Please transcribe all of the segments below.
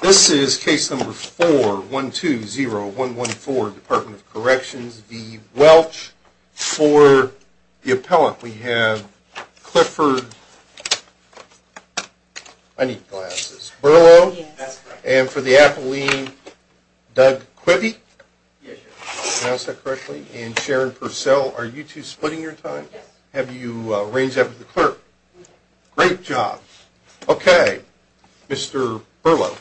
This is case number 4-120-114, Department of Corrections v. Welch. For the appellant, we have Clifford Burlow. And for the appellant, Doug Quibby. And Sharon Purcell. Are you two splitting your time? Have you arranged that with the clerk? Great job. Okay, Mr. Burlow.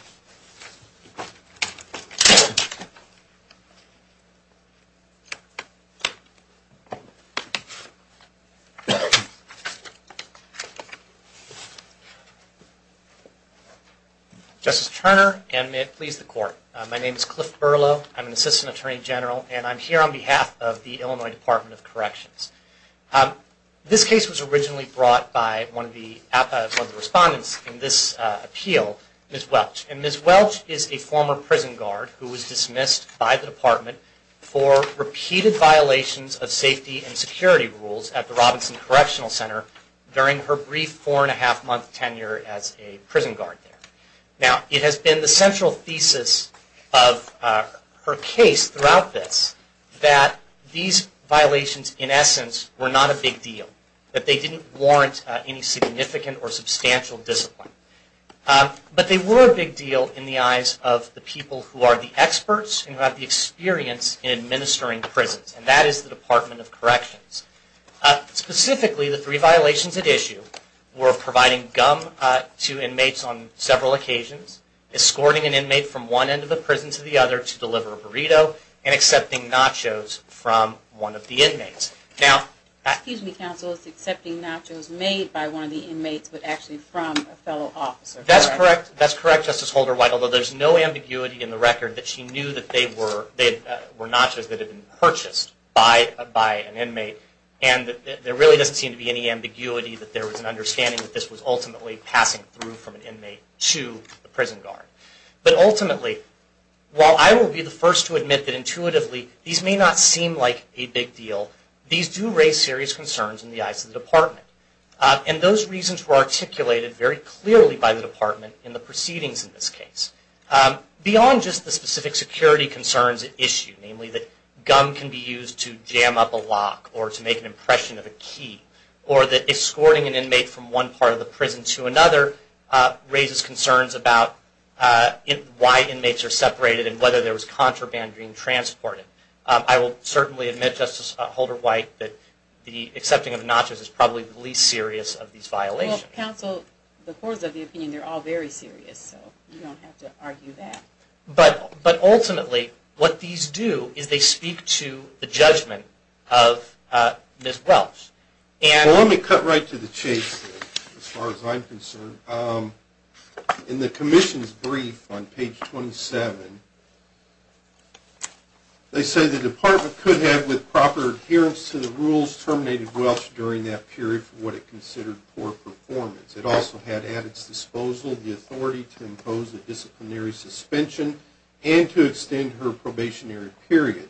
Justice Turner, and may it please the Court. My name is Cliff Burlow. I'm an Assistant Attorney General, and I'm here on behalf of the Illinois Department of Corrections. This case was originally brought by one of the respondents in this appeal, Ms. Welch. And Ms. Welch is a former prison guard who was dismissed by the Department for repeated violations of safety and security rules at the Robinson Correctional Center during her brief four-and-a-half-month tenure as a prison guard there. Now, it has been the central thesis of her case throughout this that these violations, in essence, were not a big deal. That they didn't warrant any significant or substantial discipline. But they were a big deal in the eyes of the people who are the experts and who have the experience in administering prisons. And that is the Department of Corrections. Specifically, the three violations at issue were providing gum to inmates on several occasions, escorting an inmate from one end of the prison to the other to deliver a burrito, and accepting nachos from one of the inmates. Excuse me, counsel. It's accepting nachos made by one of the inmates, but actually from a fellow officer. That's correct. That's correct, Justice Holder-White. Although there's no ambiguity in the record that she knew that they were nachos that had been purchased by an inmate. And there really doesn't seem to be any ambiguity that there was an understanding that this was ultimately passing through from an inmate to a prison guard. But ultimately, while I will be the first to admit that intuitively these may not seem like a big deal, these do raise serious concerns in the eyes of the Department. And those reasons were articulated very clearly by the Department in the proceedings in this case. Beyond just the specific security concerns at issue, namely that gum can be used to jam up a lock or to make an impression of a key, or that escorting an inmate from one part of the prison to another raises concerns about why inmates are separated and whether there was contraband being transported. I will certainly admit, Justice Holder-White, that the accepting of nachos is probably the least serious of these violations. Well, counsel, the courts of the opinion, they're all very serious, so you don't have to argue that. But ultimately, what these do is they speak to the judgment of Ms. Welch. Well, let me cut right to the chase, as far as I'm concerned. In the Commission's brief on page 27, they say the Department could have, with proper adherence to the rules, terminated Welch during that period for what it considered poor performance. It also had at its disposal the authority to impose a disciplinary suspension and to extend her probationary period.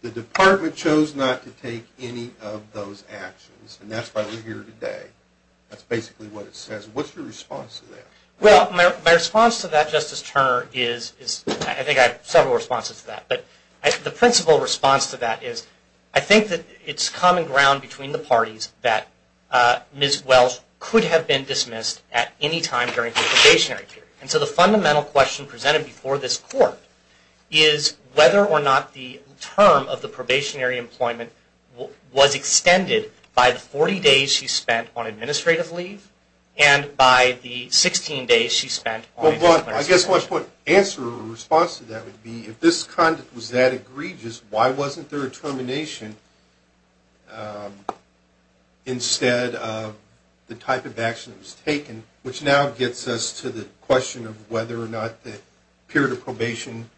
The Department chose not to take any of those actions, and that's why we're here today. That's basically what it says. What's your response to that? Well, my response to that, Justice Turner, is, I think I have several responses to that, but the principal response to that is I think that it's common ground between the parties that Ms. Welch could have been dismissed at any time during her probationary period. And so the fundamental question presented before this Court is whether or not the term of the probationary employment was extended by the 40 days she spent on administrative leave and by the 16 days she spent on disciplinary leave. Well, I guess my answer or response to that would be, if this conduct was that egregious, why wasn't there a termination instead of the type of action that was taken, which now gets us to the question of whether or not the period of probation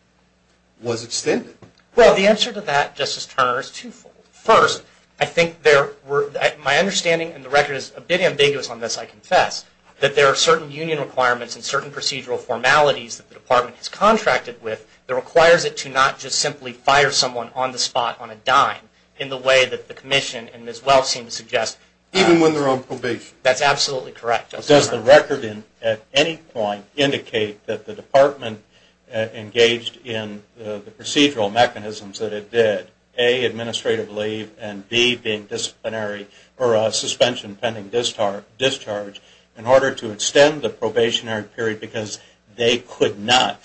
was extended? Well, the answer to that, Justice Turner, is twofold. First, I think there were, my understanding, and the record is a bit ambiguous on this, I confess, that there are certain union requirements and certain procedural formalities that the Department has contracted with that requires it to not just simply fire someone on the spot, on a dime, in the way that the Commission and Ms. Welch seem to suggest. Even when they're on probation? That's absolutely correct, Justice Turner. Does the record at any point indicate that the Department engaged in the procedural mechanisms that it did, A, administrative leave, and B, being disciplinary, or suspension pending discharge, in order to extend the probationary period because they could not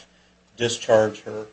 discharge her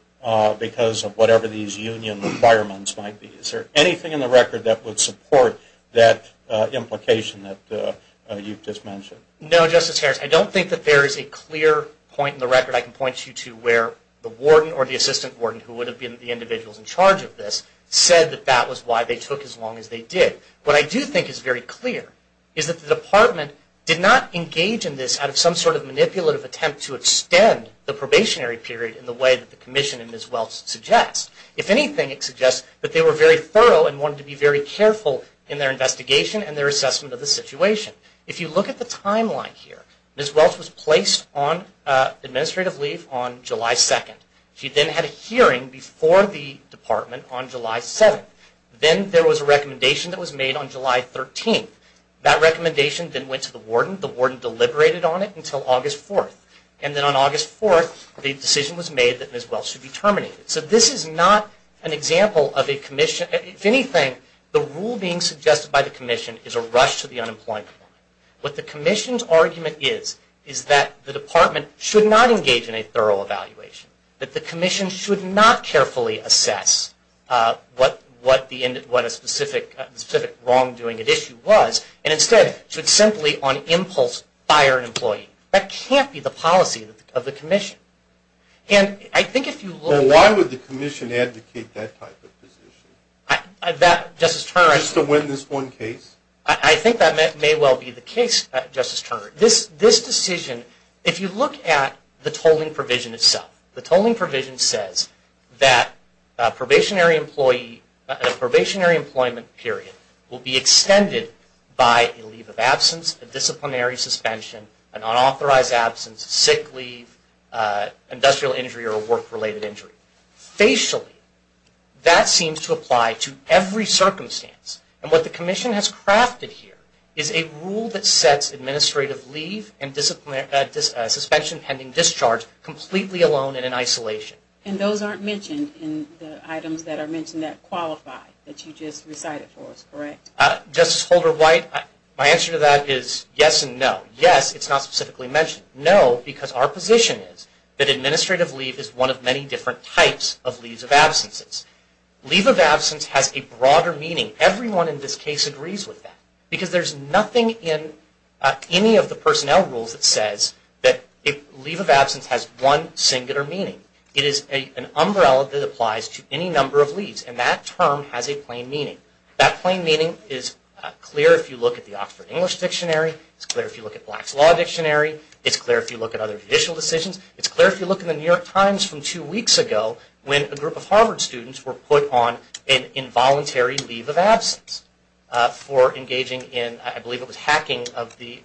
because of whatever these union requirements might be? Is there anything in the record that would support that implication that you've just mentioned? No, Justice Harris, I don't think that there is a clear point in the record I can point you to where the warden or the assistant warden who would have been the individuals in charge of this said that that was why they took as long as they did. What I do think is very clear is that the Department did not engage in this out of some sort of manipulative attempt to extend the probationary period in the way that the Commission and Ms. Welch suggest. If anything, it suggests that they were very thorough and wanted to be very careful in their investigation and their assessment of the situation. If you look at the timeline here, Ms. Welch was placed on administrative leave on July 2nd. She then had a hearing before the Department on July 7th. Then there was a recommendation that was made on July 13th. That recommendation then went to the warden. The warden deliberated on it until August 4th. And then on August 4th, the decision was made that Ms. Welch should be terminated. So this is not an example of a Commission. If anything, the rule being suggested by the Commission is a rush to the unemployment form. What the Commission's argument is is that the Department should not engage in a thorough evaluation, that the Commission should not carefully assess what a specific wrongdoing at issue was, and instead should simply on impulse fire an employee. That can't be the policy of the Commission. Why would the Commission advocate that type of position? Just to win this one case? I think that may well be the case, Justice Turner. This decision, if you look at the tolling provision itself, the tolling provision says that a probationary employment period will be extended by a leave of absence, a disciplinary suspension, an unauthorized absence, whether it's a sick leave, industrial injury, or a work-related injury. Facially, that seems to apply to every circumstance. And what the Commission has crafted here is a rule that sets administrative leave and suspension pending discharge completely alone and in isolation. And those aren't mentioned in the items that are mentioned that qualify that you just recited for us, correct? Justice Holder-White, my answer to that is yes and no. Yes, it's not specifically mentioned. No, because our position is that administrative leave is one of many different types of leaves of absences. Leave of absence has a broader meaning. Everyone in this case agrees with that, because there's nothing in any of the personnel rules that says that leave of absence has one singular meaning. It is an umbrella that applies to any number of leaves, and that term has a plain meaning. That plain meaning is clear if you look at the Oxford English Dictionary. It's clear if you look at Black's Law Dictionary. It's clear if you look at other judicial decisions. It's clear if you look in the New York Times from two weeks ago when a group of Harvard students were put on an involuntary leave of absence for engaging in, I believe it was hacking, of the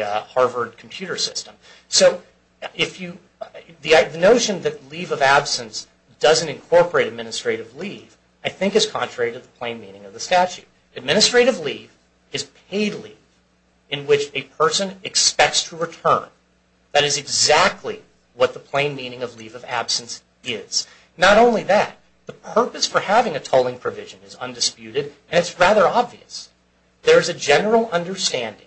Harvard computer system. So the notion that leave of absence doesn't incorporate administrative leave, I think is contrary to the plain meaning of the statute. Administrative leave is paid leave in which a person expects to return. That is exactly what the plain meaning of leave of absence is. Not only that, the purpose for having a tolling provision is undisputed, and it's rather obvious. There's a general understanding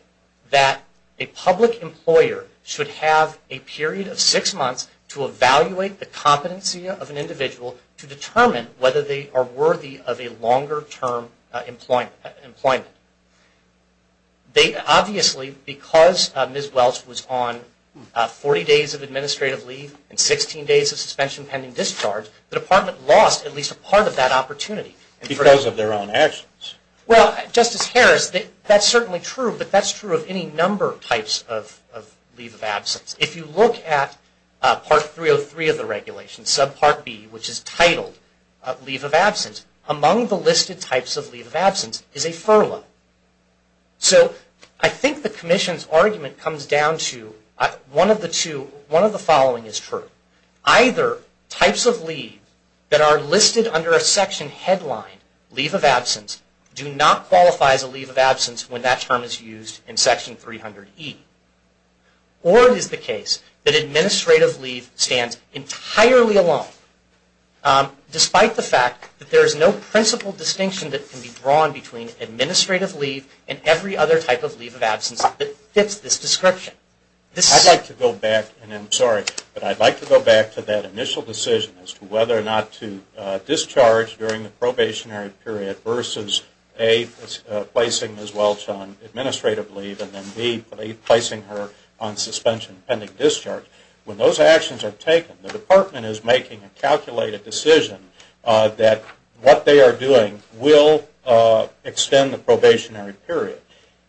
that a public employer should have a period of six months to evaluate the competency of an individual to determine whether they are worthy of a longer term employment. Obviously, because Ms. Welch was on 40 days of administrative leave and 16 days of suspension pending discharge, the department lost at least a part of that opportunity. Because of their own actions. Well, Justice Harris, that's certainly true, but that's true of any number of types of leave of absence. If you look at Part 303 of the regulation, subpart B, which is titled leave of absence, among the listed types of leave of absence is a furlough. So I think the Commission's argument comes down to one of the following is true. Either types of leave that are listed under a section headline, leave of absence, do not qualify as a leave of absence when that term is used in Section 300E. Or it is the case that administrative leave stands entirely alone, despite the fact that there is no principal distinction that can be drawn between administrative leave and every other type of leave of absence that fits this description. I'd like to go back, and I'm sorry, but I'd like to go back to that initial decision as to whether or not to discharge during the probationary period versus, A, placing Ms. Welch on administrative leave, and, B, placing her on suspension pending discharge. When those actions are taken, the Department is making a calculated decision that what they are doing will extend the probationary period.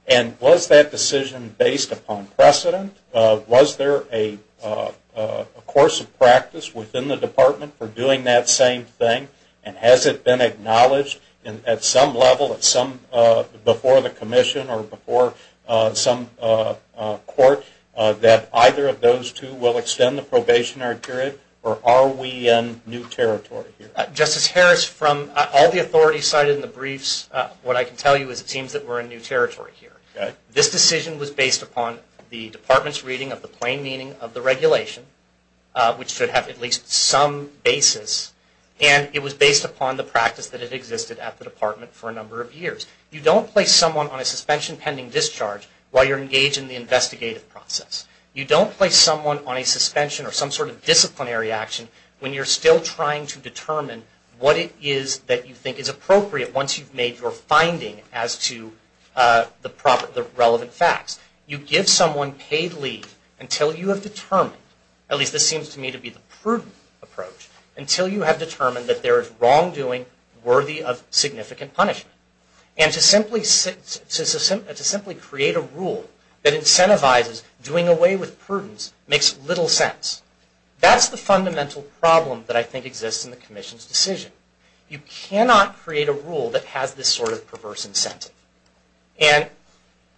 And was that decision based upon precedent? Was there a course of practice within the Department for doing that same thing? And has it been acknowledged at some level, before the Commission or before some court, that either of those two will extend the probationary period? Or are we in new territory here? Justice Harris, from all the authorities cited in the briefs, what I can tell you is it seems that we're in new territory here. This decision was based upon the Department's reading of the plain meaning of the regulation, which should have at least some basis. And it was based upon the practice that had existed at the Department for a number of years. You don't place someone on a suspension pending discharge while you're engaged in the investigative process. You don't place someone on a suspension or some sort of disciplinary action when you're still trying to determine what it is that you think is appropriate once you've made your finding as to the relevant facts. You give someone paid leave until you have determined, at least this seems to me to be the prudent approach, until you have determined that there is wrongdoing worthy of significant punishment. And to simply create a rule that incentivizes doing away with prudence makes little sense. That's the fundamental problem that I think exists in the Commission's decision. You cannot create a rule that has this sort of perverse incentive. And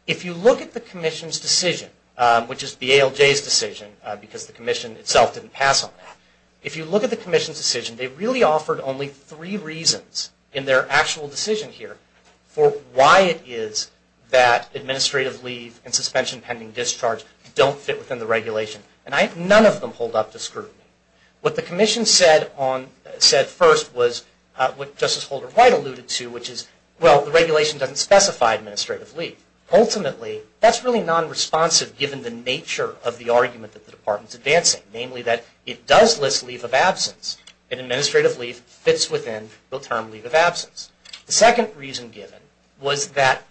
if you look at the Commission's decision, which is BALJ's decision, because the Commission itself didn't pass on that, if you look at the Commission's decision, they really offered only three reasons in their actual decision here for why it is that administrative leave and suspension pending discharge don't fit within the regulation. And none of them hold up to scrutiny. What the Commission said first was what Justice Holder White alluded to, which is, well, the regulation doesn't specify administrative leave. Ultimately, that's really non-responsive given the nature of the argument that the Department is advancing, namely that it does list leave of absence and administrative leave fits within the term leave of absence. The second reason given was that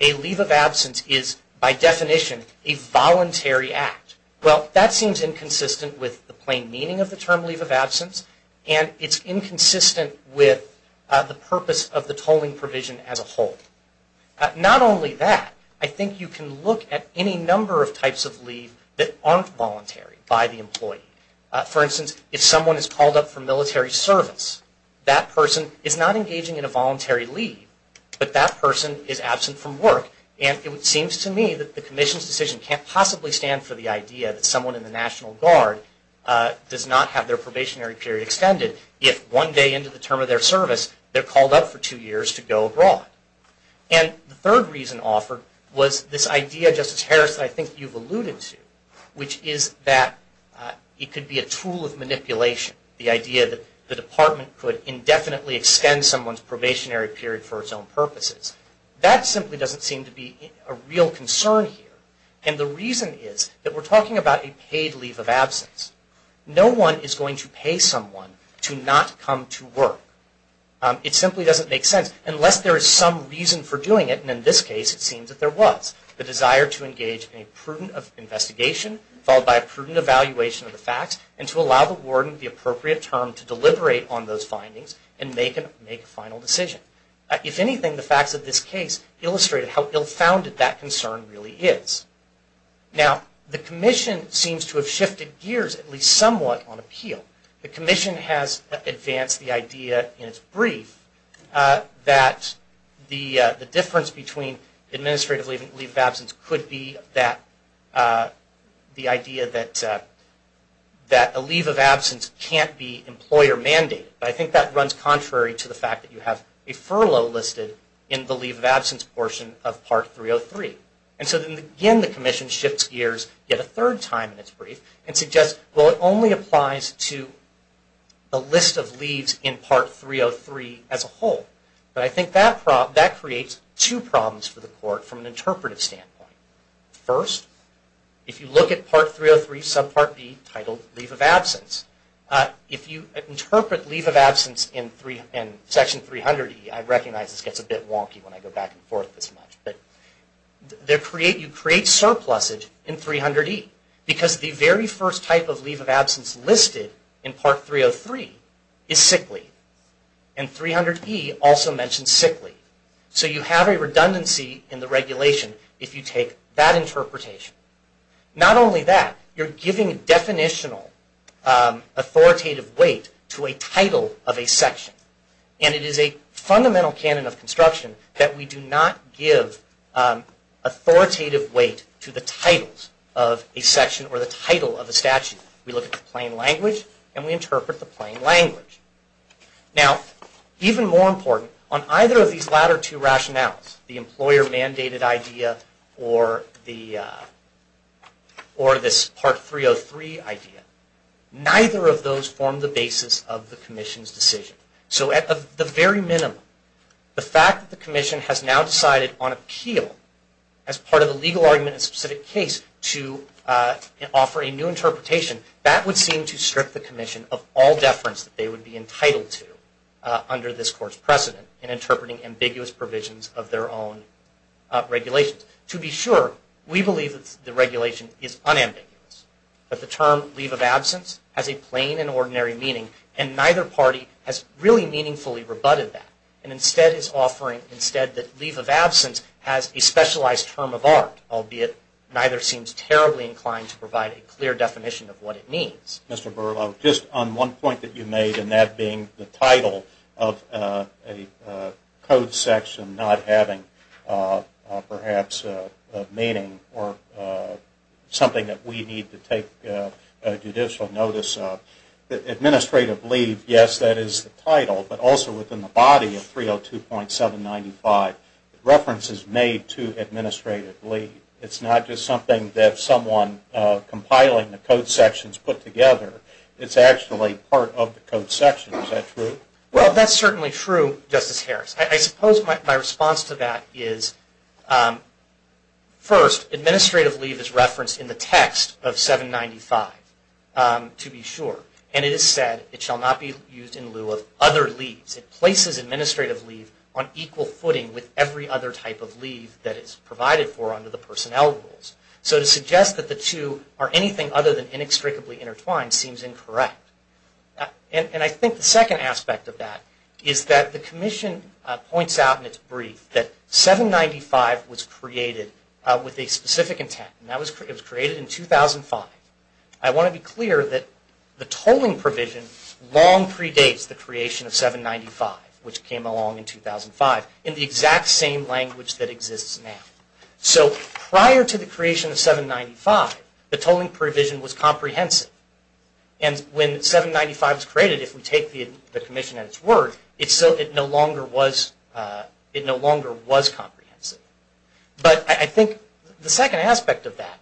a leave of absence is, by definition, a voluntary act. Well, that seems inconsistent with the plain meaning of the term leave of absence and it's inconsistent with the purpose of the tolling provision as a whole. Not only that, I think you can look at any number of types of leave that aren't voluntary by the employee. For instance, if someone is called up for military service, that person is not engaging in a voluntary leave, but that person is absent from work. And it seems to me that the Commission's decision can't possibly stand for the idea that someone in the National Guard does not have their probationary period extended if one day into the term of their service they're called up for two years to go abroad. And the third reason offered was this idea, Justice Harris, that I think you've alluded to, which is that it could be a tool of manipulation, the idea that the Department could indefinitely extend someone's probationary period for its own purposes. That simply doesn't seem to be a real concern here. And the reason is that we're talking about a paid leave of absence. No one is going to pay someone to not come to work. It simply doesn't make sense, unless there is some reason for doing it, and in this case it seems that there was. The desire to engage in a prudent investigation, followed by a prudent evaluation of the facts, and to allow the warden the appropriate term to deliberate on those findings and make a final decision. If anything, the facts of this case illustrate how ill-founded that concern really is. Now, the Commission seems to have shifted gears, at least somewhat, on appeal. The Commission has advanced the idea in its brief that the difference between administrative leave of absence could be the idea that a leave of absence can't be employer mandated. I think that runs contrary to the fact that you have a furlough listed in the leave of absence portion of Part 303. And so, again, the Commission shifts gears yet a third time in its brief and suggests, well, it only applies to the list of leaves in Part 303 as a whole. But I think that creates two problems for the Court from an interpretive standpoint. First, if you look at Part 303, Subpart B, titled Leave of Absence, if you interpret leave of absence in Section 300E, I recognize this gets a bit wonky when I go back and forth this much, you create surpluses in 300E. Because the very first type of leave of absence listed in Part 303 is sick leave. And 300E also mentions sick leave. So you have a redundancy in the regulation if you take that interpretation. Not only that, you're giving definitional authoritative weight to a title of a section. And it is a fundamental canon of construction that we do not give authoritative weight to the titles of a section or the title of a statute. We look at the plain language and we interpret the plain language. Now, even more important, on either of these latter two rationales, the employer-mandated idea or this Part 303 idea, neither of those form the basis of the Commission's decision. So at the very minimum, the fact that the Commission has now decided on appeal as part of the legal argument in a specific case to offer a new interpretation, that would seem to strip the Commission of all deference that they would be entitled to under this Court's precedent in interpreting ambiguous provisions of their own regulations. To be sure, we believe that the regulation is unambiguous. But the term leave of absence has a plain and ordinary meaning, and neither party has really meaningfully rebutted that and instead is offering that leave of absence has a specialized term of art, albeit neither seems terribly inclined to provide a clear definition of what it means. Mr. Berlow, just on one point that you made, and that being the title of a code section not having perhaps a meaning or something that we need to take judicial notice of, administrative leave, yes, that is the title, but also within the body of 302.795, reference is made to administrative leave. It's not just something that someone compiling the code sections put together. It's actually part of the code section. Is that true? Well, that's certainly true, Justice Harris. I suppose my response to that is, first, administrative leave is referenced in the text of 795, to be sure, and it is said it shall not be used in lieu of other leaves. It places administrative leave on equal footing with every other type of leave that is provided for under the personnel rules. So to suggest that the two are anything other than inextricably intertwined seems incorrect. And I think the second aspect of that is that the Commission points out in its brief that 795 was created with a specific intent. It was created in 2005. I want to be clear that the tolling provision long predates the creation of 795, which came along in 2005, in the exact same language that exists now. So prior to the creation of 795, the tolling provision was comprehensive. And when 795 was created, if we take the Commission at its word, it no longer was comprehensive. But I think the second aspect of that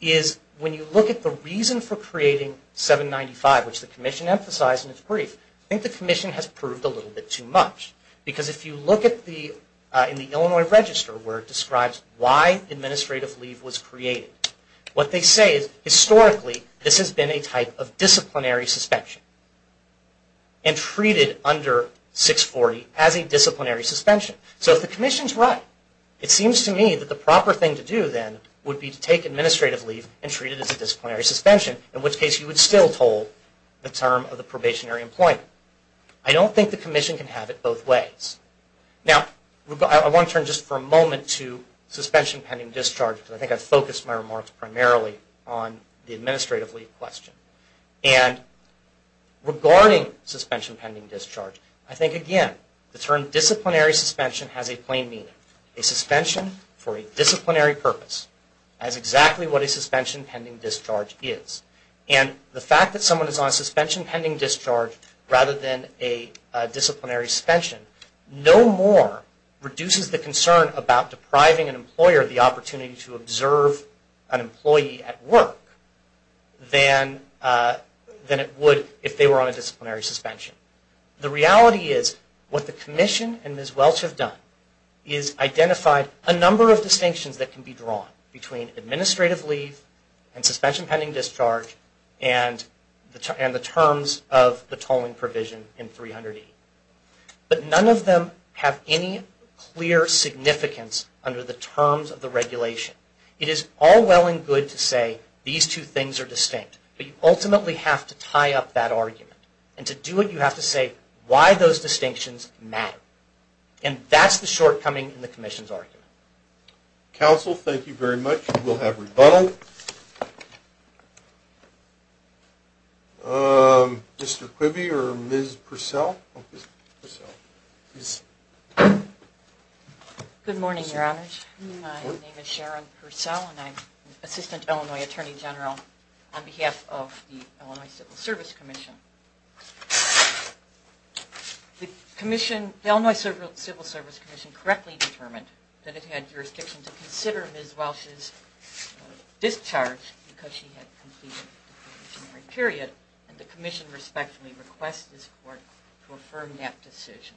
is when you look at the reason for creating 795, which the Commission emphasized in its brief, I think the Commission has proved a little bit too much. Because if you look in the Illinois Register where it describes why administrative leave was created, what they say is historically this has been a type of disciplinary suspension and treated under 640 as a disciplinary suspension. So if the Commission is right, it seems to me that the proper thing to do then would be to take administrative leave and treat it as a disciplinary suspension, in which case you would still toll the term of the probationary employment. I don't think the Commission can have it both ways. Now, I want to turn just for a moment to suspension pending discharge, because I think I focused my remarks primarily on the administrative leave question. And regarding suspension pending discharge, I think again, the term disciplinary suspension has a plain meaning. A suspension for a disciplinary purpose has exactly what a suspension pending discharge is. And the fact that someone is on a suspension pending discharge rather than a disciplinary suspension no more reduces the concern about depriving an employer of the opportunity to observe an employee at work than it would if they were on a disciplinary suspension. The reality is what the Commission and Ms. Welch have done is identified a number of distinctions that can be drawn between administrative leave and suspension pending discharge and the terms of the tolling provision in 300E. But none of them have any clear significance under the terms of the regulation. It is all well and good to say these two things are distinct, but you ultimately have to tie up that argument. And to do it, you have to say why those distinctions matter. And that's the shortcoming in the Commission's argument. Counsel, thank you very much. We'll have rebuttal. Mr. Quibby or Ms. Purcell? Good morning, Your Honors. My name is Sharon Purcell and I'm Assistant Illinois Attorney General on behalf of the Illinois Civil Service Commission. The Illinois Civil Service Commission correctly determined that it had jurisdiction to consider Ms. Welch's discharge because she had completed a disciplinary period and the Commission respectfully requests this Court to affirm that decision.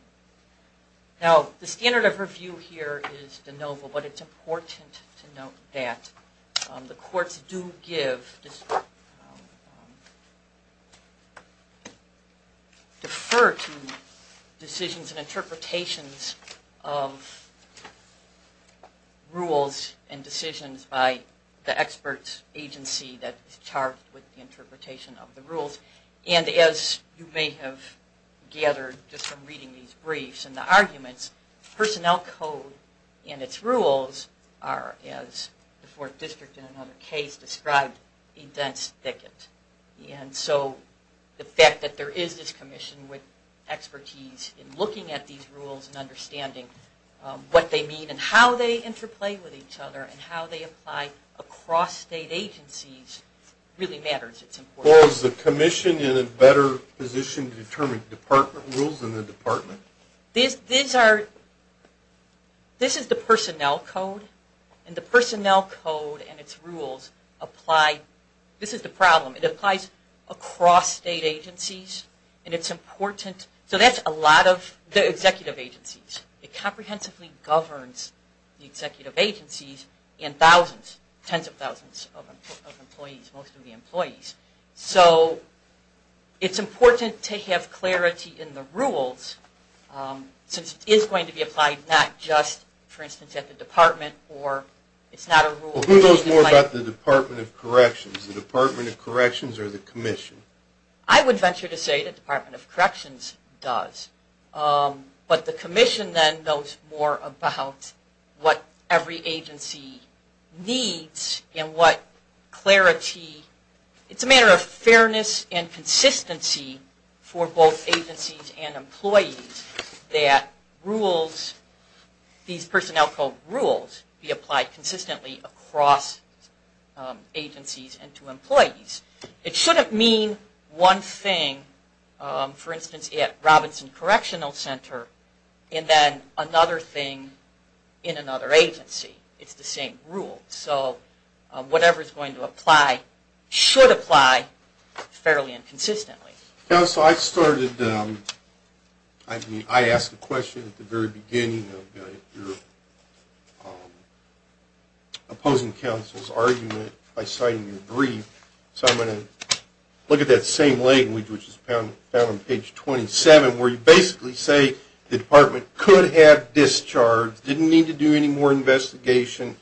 Now, the standard of review here is de novo, but it's important to note that the courts do give, defer to decisions and interpretations of rules and decisions by the experts agency that is charged with the interpretation of the rules. And as you may have gathered just from reading these briefs and the arguments, personnel code and its rules are, as the Fourth District in another case described, a dense thicket. And so the fact that there is this Commission with expertise in looking at these rules and understanding what they mean and how they interplay with each other and how they apply across state agencies really matters. Is the Commission in a better position to determine department rules in the department? These are, this is the personnel code and the personnel code and its rules apply, this is the problem, it applies across state agencies and it's important, so that's a lot of the executive agencies. It comprehensively governs the executive agencies and thousands, tens of thousands of employees, most of the employees. So it's important to have clarity in the rules since it is going to be applied not just, for instance, at the department or it's not a rule. Who knows more about the Department of Corrections, the Department of Corrections or the Commission? I would venture to say the Department of Corrections does, but the Commission then knows more about what every agency needs and what clarity, it's a matter of fairness and consistency for both agencies and employees that rules, these personnel code rules be applied consistently across agencies and to employees. It shouldn't mean one thing, for instance, at Robinson Correctional Center and then another thing in another agency. It's the same rule. So whatever is going to apply should apply fairly and consistently. Counsel, I started, I asked a question at the very beginning of your opposing counsel's argument by citing your brief, so I'm going to look at that same language which is found on page 27 where you basically say the department could have discharged, didn't need to do any more investigation,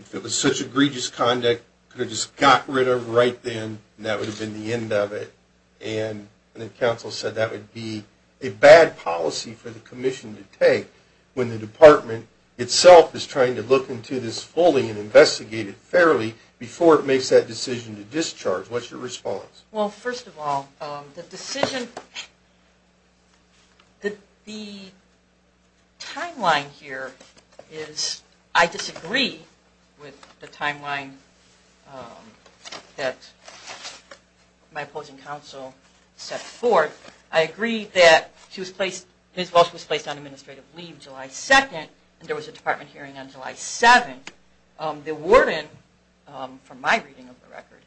if it was such egregious conduct, could have just got rid of right then and that would have been the end of it. And then counsel said that would be a bad policy for the commission to take when the department itself is trying to look into this fully and investigate it fairly before it makes that decision to discharge. What's your response? Well, first of all, the timeline here is I disagree with the timeline that my opposing counsel set forth. I agree that his voice was placed on administrative leave July 2nd and there was a department hearing on July 7th. The warden, from my reading of the record,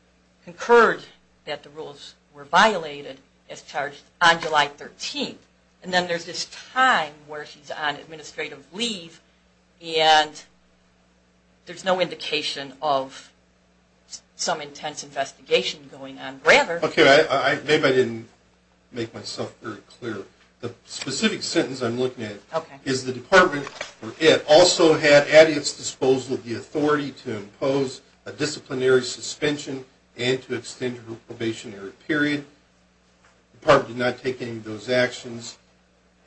concurred that the rules were violated as charged on July 13th. And then there's this time where she's on administrative leave and there's no indication of some intense investigation going on. Okay, maybe I didn't make myself very clear. The specific sentence I'm looking at is the department, or it, also had at its disposal the authority to impose a disciplinary suspension and to extend her probationary period. The department did not take any of those actions.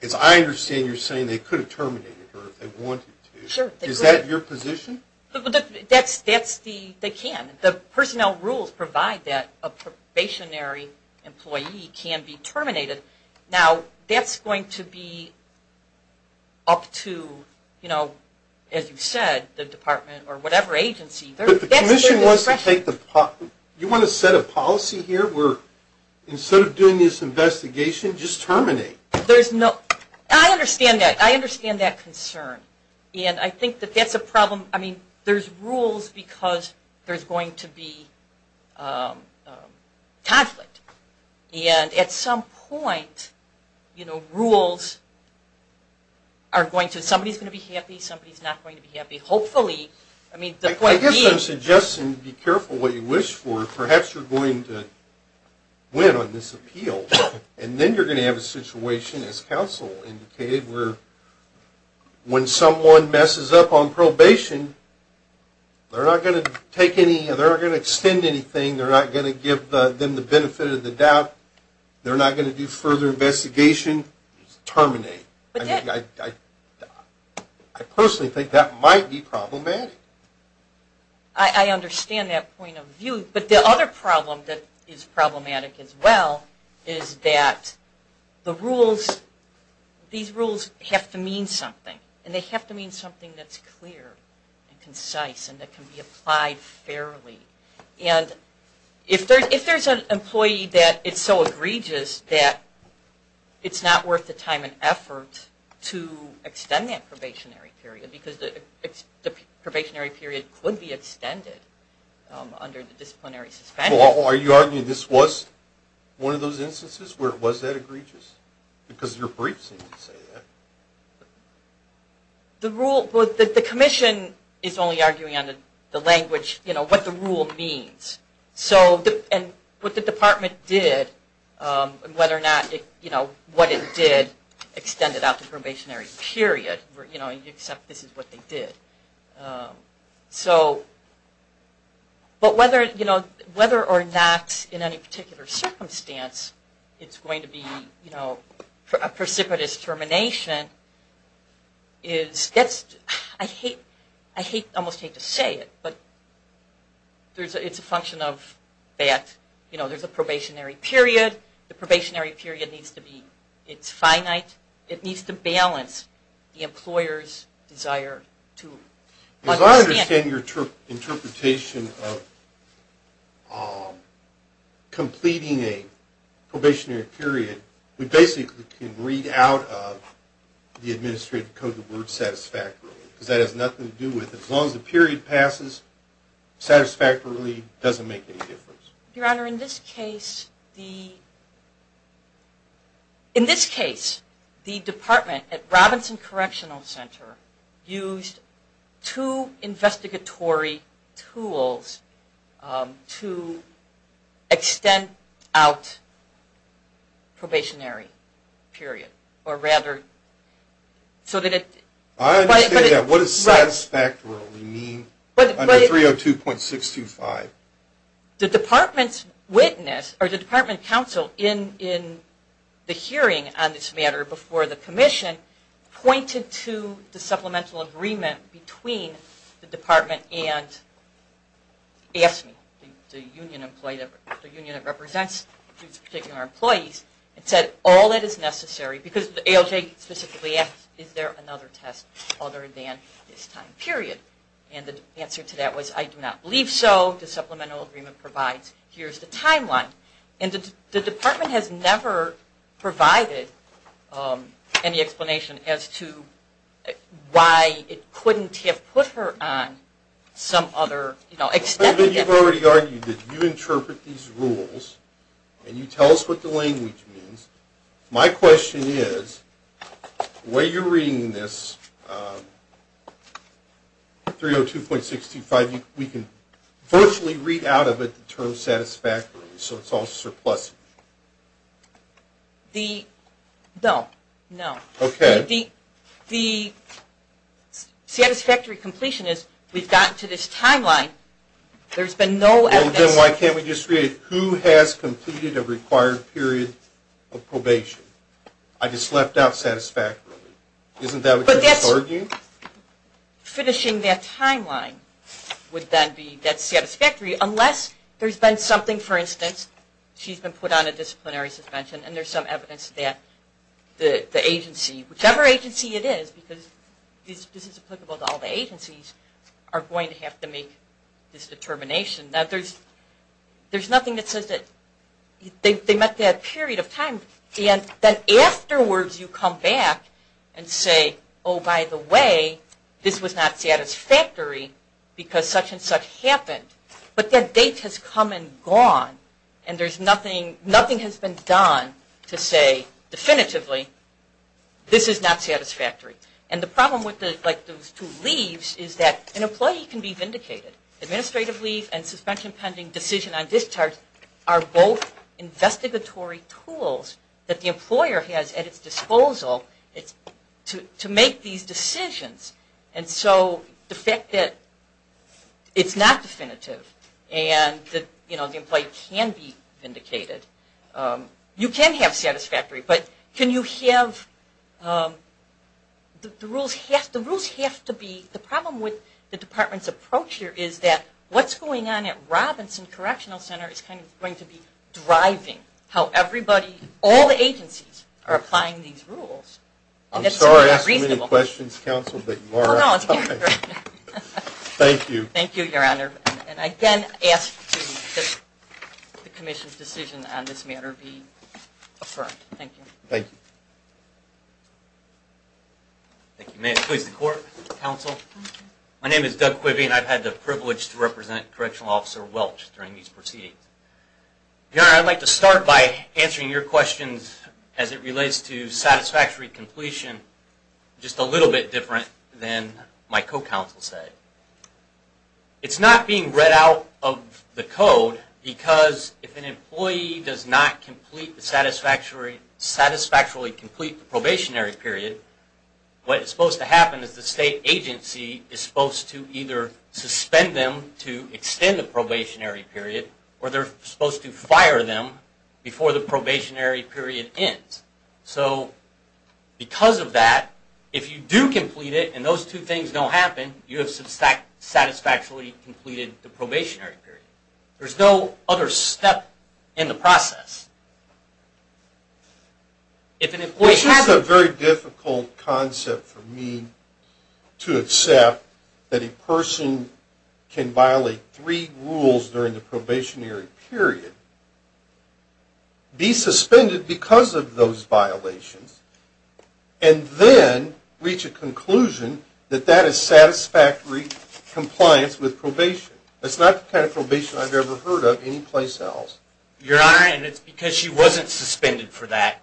As I understand, you're saying they could have terminated her if they wanted to. Sure. Is that your position? They can. The personnel rules provide that a probationary employee can be terminated. Now, that's going to be up to, you know, as you said, the department or whatever agency. But the commission wants to take the, you want to set a policy here where instead of doing this investigation, just terminate? There's no, I understand that. I understand that concern. And I think that that's a problem. I mean, there's rules because there's going to be conflict. And at some point, you know, rules are going to, somebody's going to be happy, somebody's not going to be happy. Hopefully, I mean, the point being. I guess I'm suggesting be careful what you wish for. Perhaps you're going to win on this appeal. And then you're going to have a situation, as counsel indicated, where when someone messes up on probation, they're not going to take any, they're not going to extend anything. They're not going to give them the benefit of the doubt. They're not going to do further investigation. Terminate. I personally think that might be problematic. I understand that point of view. But the other problem that is problematic as well is that the rules, these rules have to mean something. And they have to mean something that's clear and concise and that can be applied fairly. And if there's an employee that is so egregious that it's not worth the time and effort to extend that probationary period because the probationary period could be extended under the disciplinary suspension. Are you arguing this was one of those instances where it was that egregious? Because your briefs seem to say that. The rule, the commission is only arguing on the language, you know, what the rule means. So, and what the department did, whether or not, you know, what it did extended out the probationary period, you know, except this is what they did. So, but whether, you know, whether or not in any particular circumstance it's going to be, you know, a precipitous termination is, I hate, I almost hate to say it, but it's a function of that. You know, there's a probationary period. The probationary period needs to be, it's finite. It needs to balance the employer's desire to understand. As I understand your interpretation of completing a probationary period, we basically can read out of the administrative code the word satisfactorily because that has nothing to do with it. As long as the period passes, satisfactorily doesn't make any difference. Your Honor, in this case, the, in this case, the department at Robinson Correctional Center used two investigatory tools to extend out probationary period, or rather, so that it. I understand that. What does satisfactorily mean under 302.625? The department's witness, or the department counsel, in the hearing on this matter before the commission pointed to the union employee, the union that represents these particular employees, and said, all that is necessary, because the ALJ specifically asked, is there another test other than this time period? And the answer to that was, I do not believe so. The supplemental agreement provides, here's the timeline. And the department has never provided any explanation as to why it couldn't have put her on some other, you know, extended. You've already argued that you interpret these rules, and you tell us what the language means. My question is, the way you're reading this, 302.625, we can virtually read out of it the term satisfactorily, so it's all surplus. The, no, no. Okay. The satisfactory completion is, we've gotten to this timeline. There's been no evidence. Well, then why can't we just read, who has completed a required period of probation? I just left out satisfactorily. Isn't that what you're just arguing? Finishing that timeline would then be, that's satisfactory, unless there's been something, for instance, she's been put on a disciplinary suspension, and there's some evidence that the agency, whichever agency it is, because this is applicable to all the agencies, are going to have to make this determination. Now, there's nothing that says that they met that period of time, and then afterwards you come back and say, oh, by the way, this was not satisfactory because such and such happened. But that date has come and gone, and there's nothing, nothing has been done to say definitively, this is not satisfactory. And the problem with those two leaves is that an employee can be vindicated. Administrative leave and suspension pending decision on discharge are both investigatory tools that the employer has at its disposal to make these decisions. And so the fact that it's not definitive and the employee can be vindicated, you can have satisfactory, but can you have, the rules have to be, the problem with the department's approach here is that what's going on at Robinson Correctional Center is going to be driving how everybody, all the agencies, are applying these rules. I'm sorry to ask so many questions, Counsel, but you are out of time. Thank you. Thank you, Your Honor. And I again ask that the Commission's decision on this matter be affirmed. Thank you. Thank you. May it please the Court, Counsel. My name is Doug Quibby, and I've had the privilege to represent Correctional Officer Welch during these proceedings. Your Honor, I'd like to start by answering your questions as it relates to satisfactory completion, just a little bit different than my co-counsel said. It's not being read out of the code because if an employee does not satisfactorily complete the probationary period, what is supposed to happen is the state agency is supposed to either suspend them to extend the probationary period, or they're supposed to fire them before the probationary period ends. So because of that, if you do complete it and those two things don't happen, you have satisfactorily completed the probationary period. There's no other step in the process. This is a very difficult concept for me to accept, that a person can violate three rules during the probationary period, be suspended because of those violations, and then reach a conclusion that that is satisfactory compliance with probation. That's not the kind of probation I've ever heard of anyplace else. Your Honor, and it's because she wasn't suspended for that.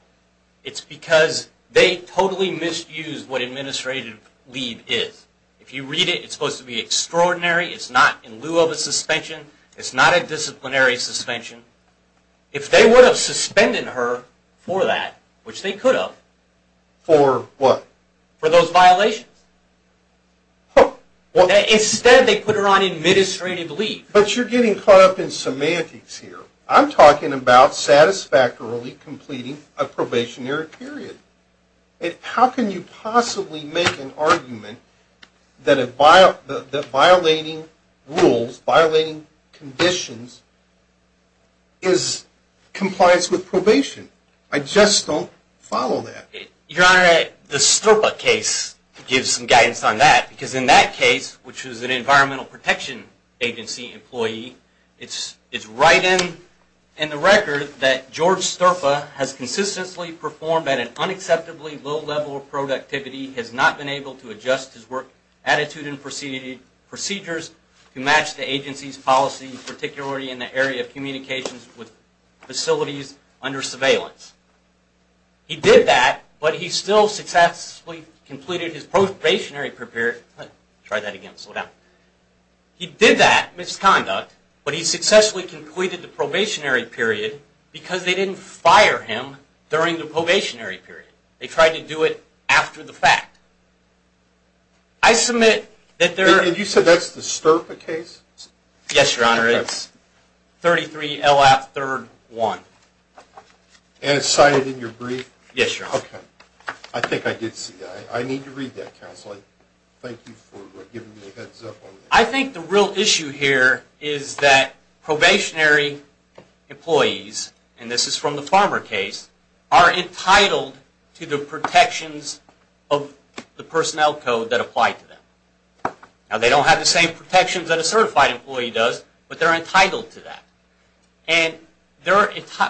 It's because they totally misused what administrative leave is. If you read it, it's supposed to be extraordinary. It's not in lieu of a suspension. It's not a disciplinary suspension. If they would have suspended her for that, which they could have. For what? For those violations. Instead, they put her on administrative leave. But you're getting caught up in semantics here. I'm talking about satisfactorily completing a probationary period. How can you possibly make an argument that violating rules, violating conditions, is compliance with probation? I just don't follow that. Your Honor, the Sterpa case gives some guidance on that, because in that case, which was an Environmental Protection Agency employee, it's right in the record that George Sterpa has consistently performed at an unacceptably low level of productivity, has not been able to adjust his work attitude and procedures to match the agency's policy, particularly in the area of communications with facilities under surveillance. He did that, but he still successfully completed his probationary period. He did that misconduct, but he successfully completed the probationary period because they didn't fire him during the probationary period. They tried to do it after the fact. I submit that there... You said that's the Sterpa case? Yes, Your Honor. It's 33 LF 3rd 1. And it's cited in your brief? Yes, Your Honor. Okay. I think I did see that. I need to read that, Counsel. Thank you for giving me a heads up on that. I think the real issue here is that probationary employees, and this is from the Farmer case, are entitled to the protections of the personnel code that apply to them. Now, they don't have the same protections that a certified employee does, but they're entitled to that. And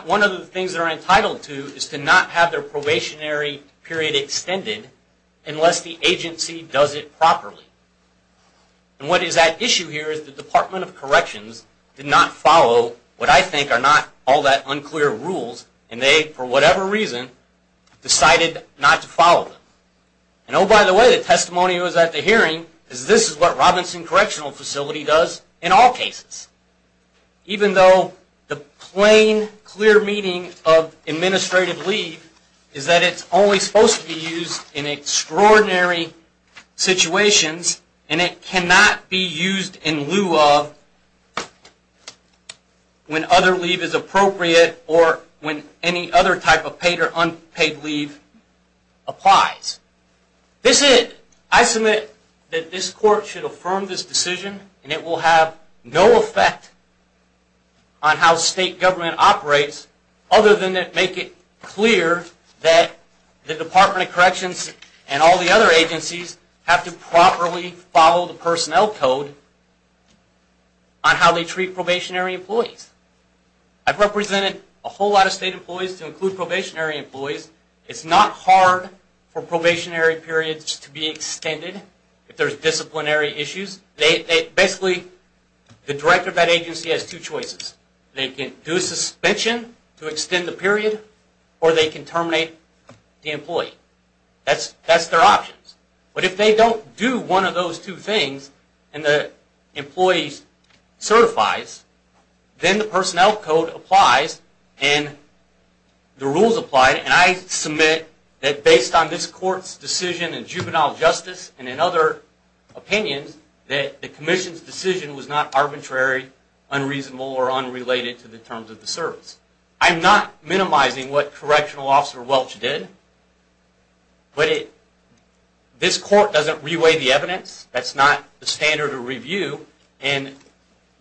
one of the things they're entitled to is to not have their probationary period extended unless the agency does it properly. And what is at issue here is the Department of Corrections did not follow what I think are not all that unclear rules, and they, for whatever reason, decided not to follow them. And oh, by the way, the testimony that was at the hearing is this is what Robinson Correctional Facility does in all cases. Even though the plain, clear meaning of administrative leave is that it's only supposed to be used in extraordinary situations, and it cannot be used in lieu of when other leave is appropriate or when any other type of paid or unpaid leave applies. This is it. I submit that this court should affirm this decision, and it will have no effect on how state government operates other than to make it clear that the Department of Corrections and all the other agencies have to properly follow the personnel code on how they treat probationary employees. I've represented a whole lot of state employees to include probationary employees. It's not hard for probationary periods to be extended if there's disciplinary issues. Basically, the director of that agency has two choices. They can do a suspension to extend the period, or they can terminate the employee. That's their options. But if they don't do one of those two things and the employee certifies, then the personnel code applies and the rules apply. And I submit that based on this court's decision in juvenile justice and in other opinions, that the commission's decision was not arbitrary, unreasonable, or unrelated to the terms of the service. I'm not minimizing what Correctional Officer Welch did, but this court doesn't re-weigh the evidence. That's not the standard of review. And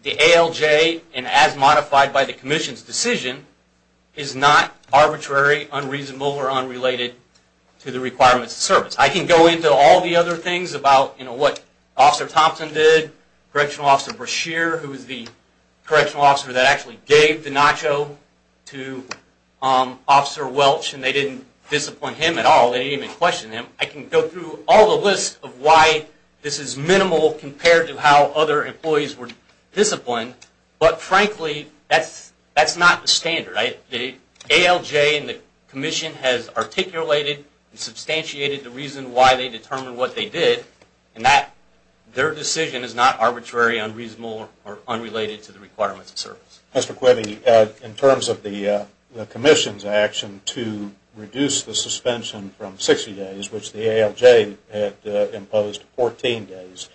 the ALJ, and as modified by the commission's decision, is not arbitrary, unreasonable, or unrelated to the requirements of service. I can go into all the other things about what Officer Thompson did, Correctional Officer Brashear, who was the correctional officer that actually gave the nacho to Officer Welch, and they didn't disappoint him at all. They didn't even question him. I can go through all the lists of why this is minimal compared to how other employees were disciplined. But frankly, that's not the standard. The ALJ and the commission has articulated and substantiated the reason why they determined what they did, and their decision is not arbitrary, unreasonable, or unrelated to the requirements of service. Mr. Quibbe, in terms of the commission's action to reduce the suspension from 60 days, which the ALJ had imposed 14 days,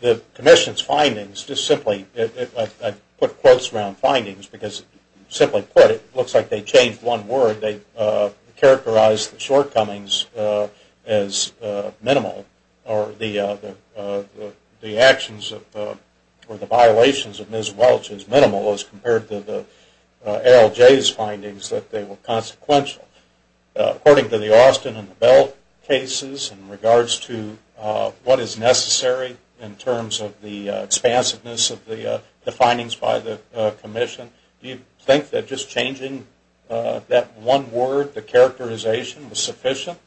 the commission's findings, just simply, I put quotes around findings because, simply put, it looks like they changed one word. They characterized the shortcomings as minimal, or the actions or the violations of Ms. Welch as minimal as compared to the ALJ's findings that they were consequential. According to the Austin and the Bell cases, in regards to what is necessary in terms of the expansiveness of the findings by the commission, do you think that just changing that one word, the characterization, was sufficient?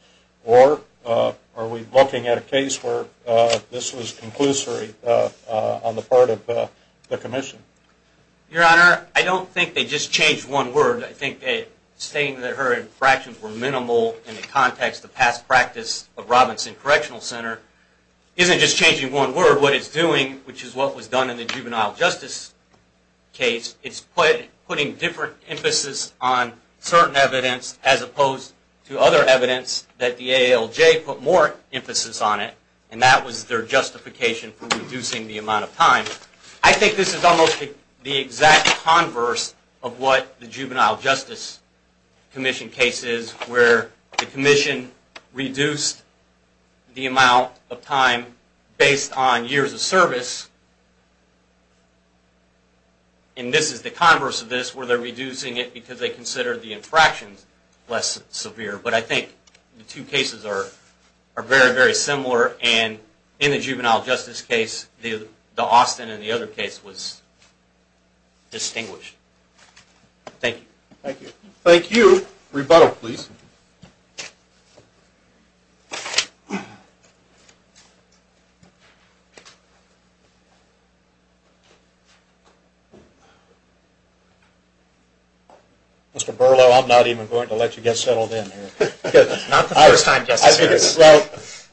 Or are we looking at a case where this was conclusory on the part of the commission? Your Honor, I don't think they just changed one word. I think that stating that her infractions were minimal in the context of past practice of Robinson Correctional Center isn't just changing one word. What it's doing, which is what was done in the juvenile justice case, it's putting different emphasis on certain evidence as opposed to other evidence that the ALJ put more emphasis on it. And that was their justification for reducing the amount of time. I think this is almost the exact converse of what the juvenile justice commission case is, where the commission reduced the amount of time based on years of service. And this is the converse of this, where they're reducing it because they consider the infractions less severe. But I think the two cases are very, very similar. And in the juvenile justice case, the Austin and the other case was distinguished. Thank you. Thank you. Rebuttal, please. Mr. Berlow, I'm not even going to let you get settled in here. Not the first time, Justice Sears. Well,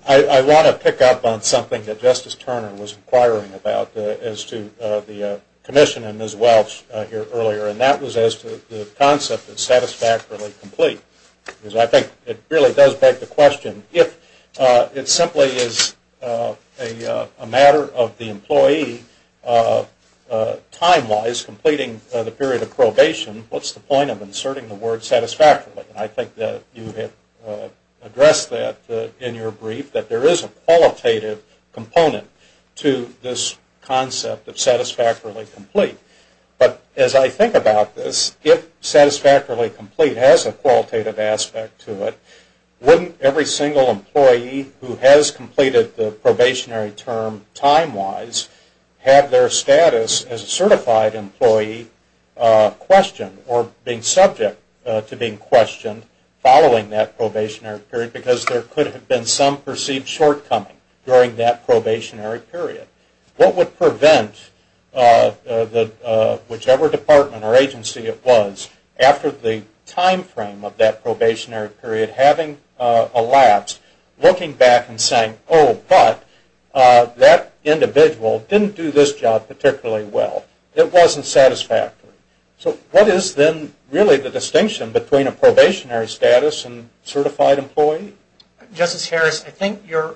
I want to pick up on something that Justice Turner was inquiring about as to the commission and Ms. Welch here earlier, and that was as to the concept of satisfactorily complete. Because I think it really does beg the question, if it simply is a matter of the employee time-wise completing the period of probation, what's the point of inserting the word satisfactorily? And I think that you have addressed that in your brief, that there is a qualitative component to this concept of satisfactorily complete. But as I think about this, if satisfactorily complete has a qualitative aspect to it, wouldn't every single employee who has completed the probationary term time-wise have their status as a certified employee questioned or being subject to being questioned following that probationary period? Because there could have been some perceived shortcoming during that probationary period. What would prevent whichever department or agency it was, after the time frame of that probationary period having elapsed, looking back and saying, oh, but that individual didn't do this job particularly well. It wasn't satisfactory. So what is then really the distinction between a probationary status and certified employee? Justice Harris, I think your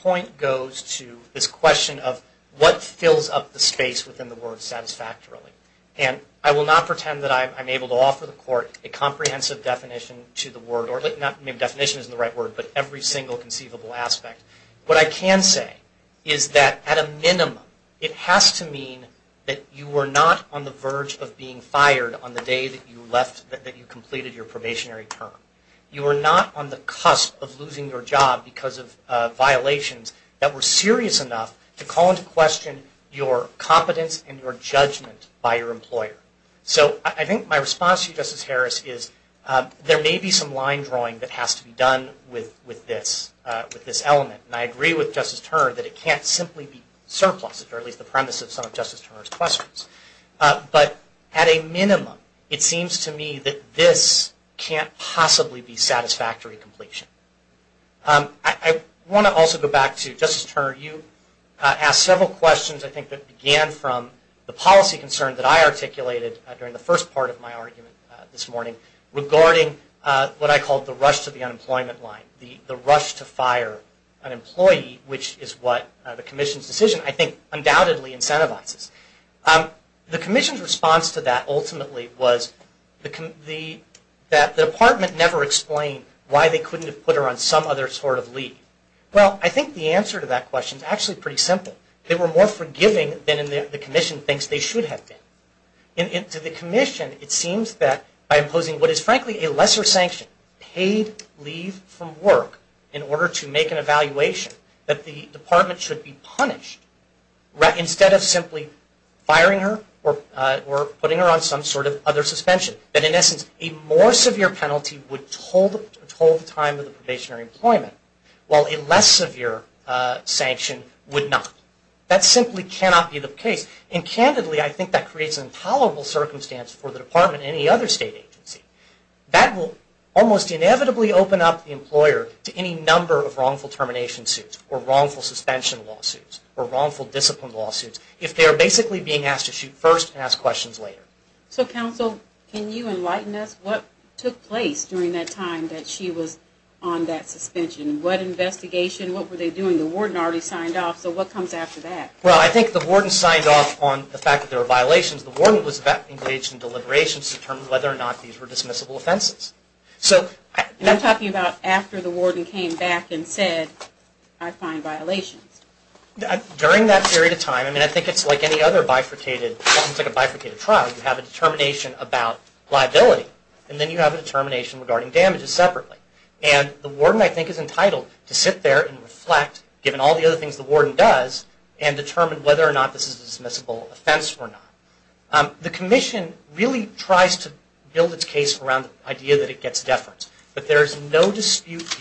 point goes to this question of what fills up the space within the word satisfactorily. And I will not pretend that I'm able to offer the Court a comprehensive definition to the word, or maybe definition isn't the right word, but every single conceivable aspect. What I can say is that at a minimum, it has to mean that you were not on the verge of being fired on the day that you completed your probationary term. You were not on the cusp of losing your job because of violations that were serious enough to call into question your competence and your judgment by your employer. So I think my response to you, Justice Harris, is there may be some line drawing that has to be done with this element. And I agree with Justice Turner that it can't simply be surpluses, or at least the premise of some of Justice Turner's questions. But at a minimum, it seems to me that this can't possibly be satisfactory completion. I want to also go back to, Justice Turner, you asked several questions I think that began from the policy concern that I articulated during the first part of my argument this morning regarding what I called the rush to the unemployment line, the rush to fire an employee, which is what the Commission's decision I think undoubtedly incentivizes. The Commission's response to that ultimately was that the Department never explained why they couldn't have put her on some other sort of leave. Well, I think the answer to that question is actually pretty simple. They were more forgiving than the Commission thinks they should have been. To the Commission, it seems that by imposing what is frankly a lesser sanction, paid leave from work in order to make an evaluation, that the Department should be punished instead of simply firing her or putting her on some sort of other suspension. That in essence, a more severe penalty would withhold the time for the probationary employment, while a less severe sanction would not. That simply cannot be the case. And candidly, I think that creates an intolerable circumstance for the Department and any other state agency. That will almost inevitably open up the employer to any number of wrongful termination suits or wrongful suspension lawsuits or wrongful discipline lawsuits if they are basically being asked to shoot first and ask questions later. So, Counsel, can you enlighten us? What took place during that time that she was on that suspension? What investigation? What were they doing? The warden already signed off, so what comes after that? Well, I think the warden signed off on the fact that there were violations. The warden was engaged in deliberations to determine whether or not these were dismissible offenses. And I'm talking about after the warden came back and said, I find violations. During that period of time, I think it's like any other bifurcated trial. You have a determination about liability, and then you have a determination regarding damages separately. And the warden, I think, is entitled to sit there and reflect, given all the other things the warden does, and determine whether or not this is a dismissible offense or not. The Commission really tries to build its case around the idea that it gets deference, but there is no dispute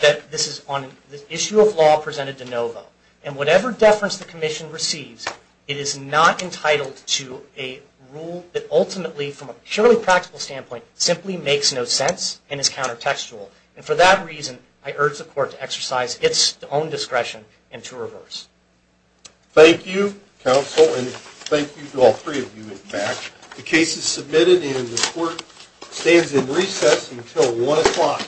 that this is on the issue of law presented de novo, and whatever deference the Commission receives, it is not entitled to a rule that ultimately, from a purely practical standpoint, simply makes no sense and is counter-textual. And for that reason, I urge the Court to exercise its own discretion and to reverse. Thank you, Counsel, and thank you to all three of you, in fact. The case is submitted, and the Court stands in recess until 1 o'clock.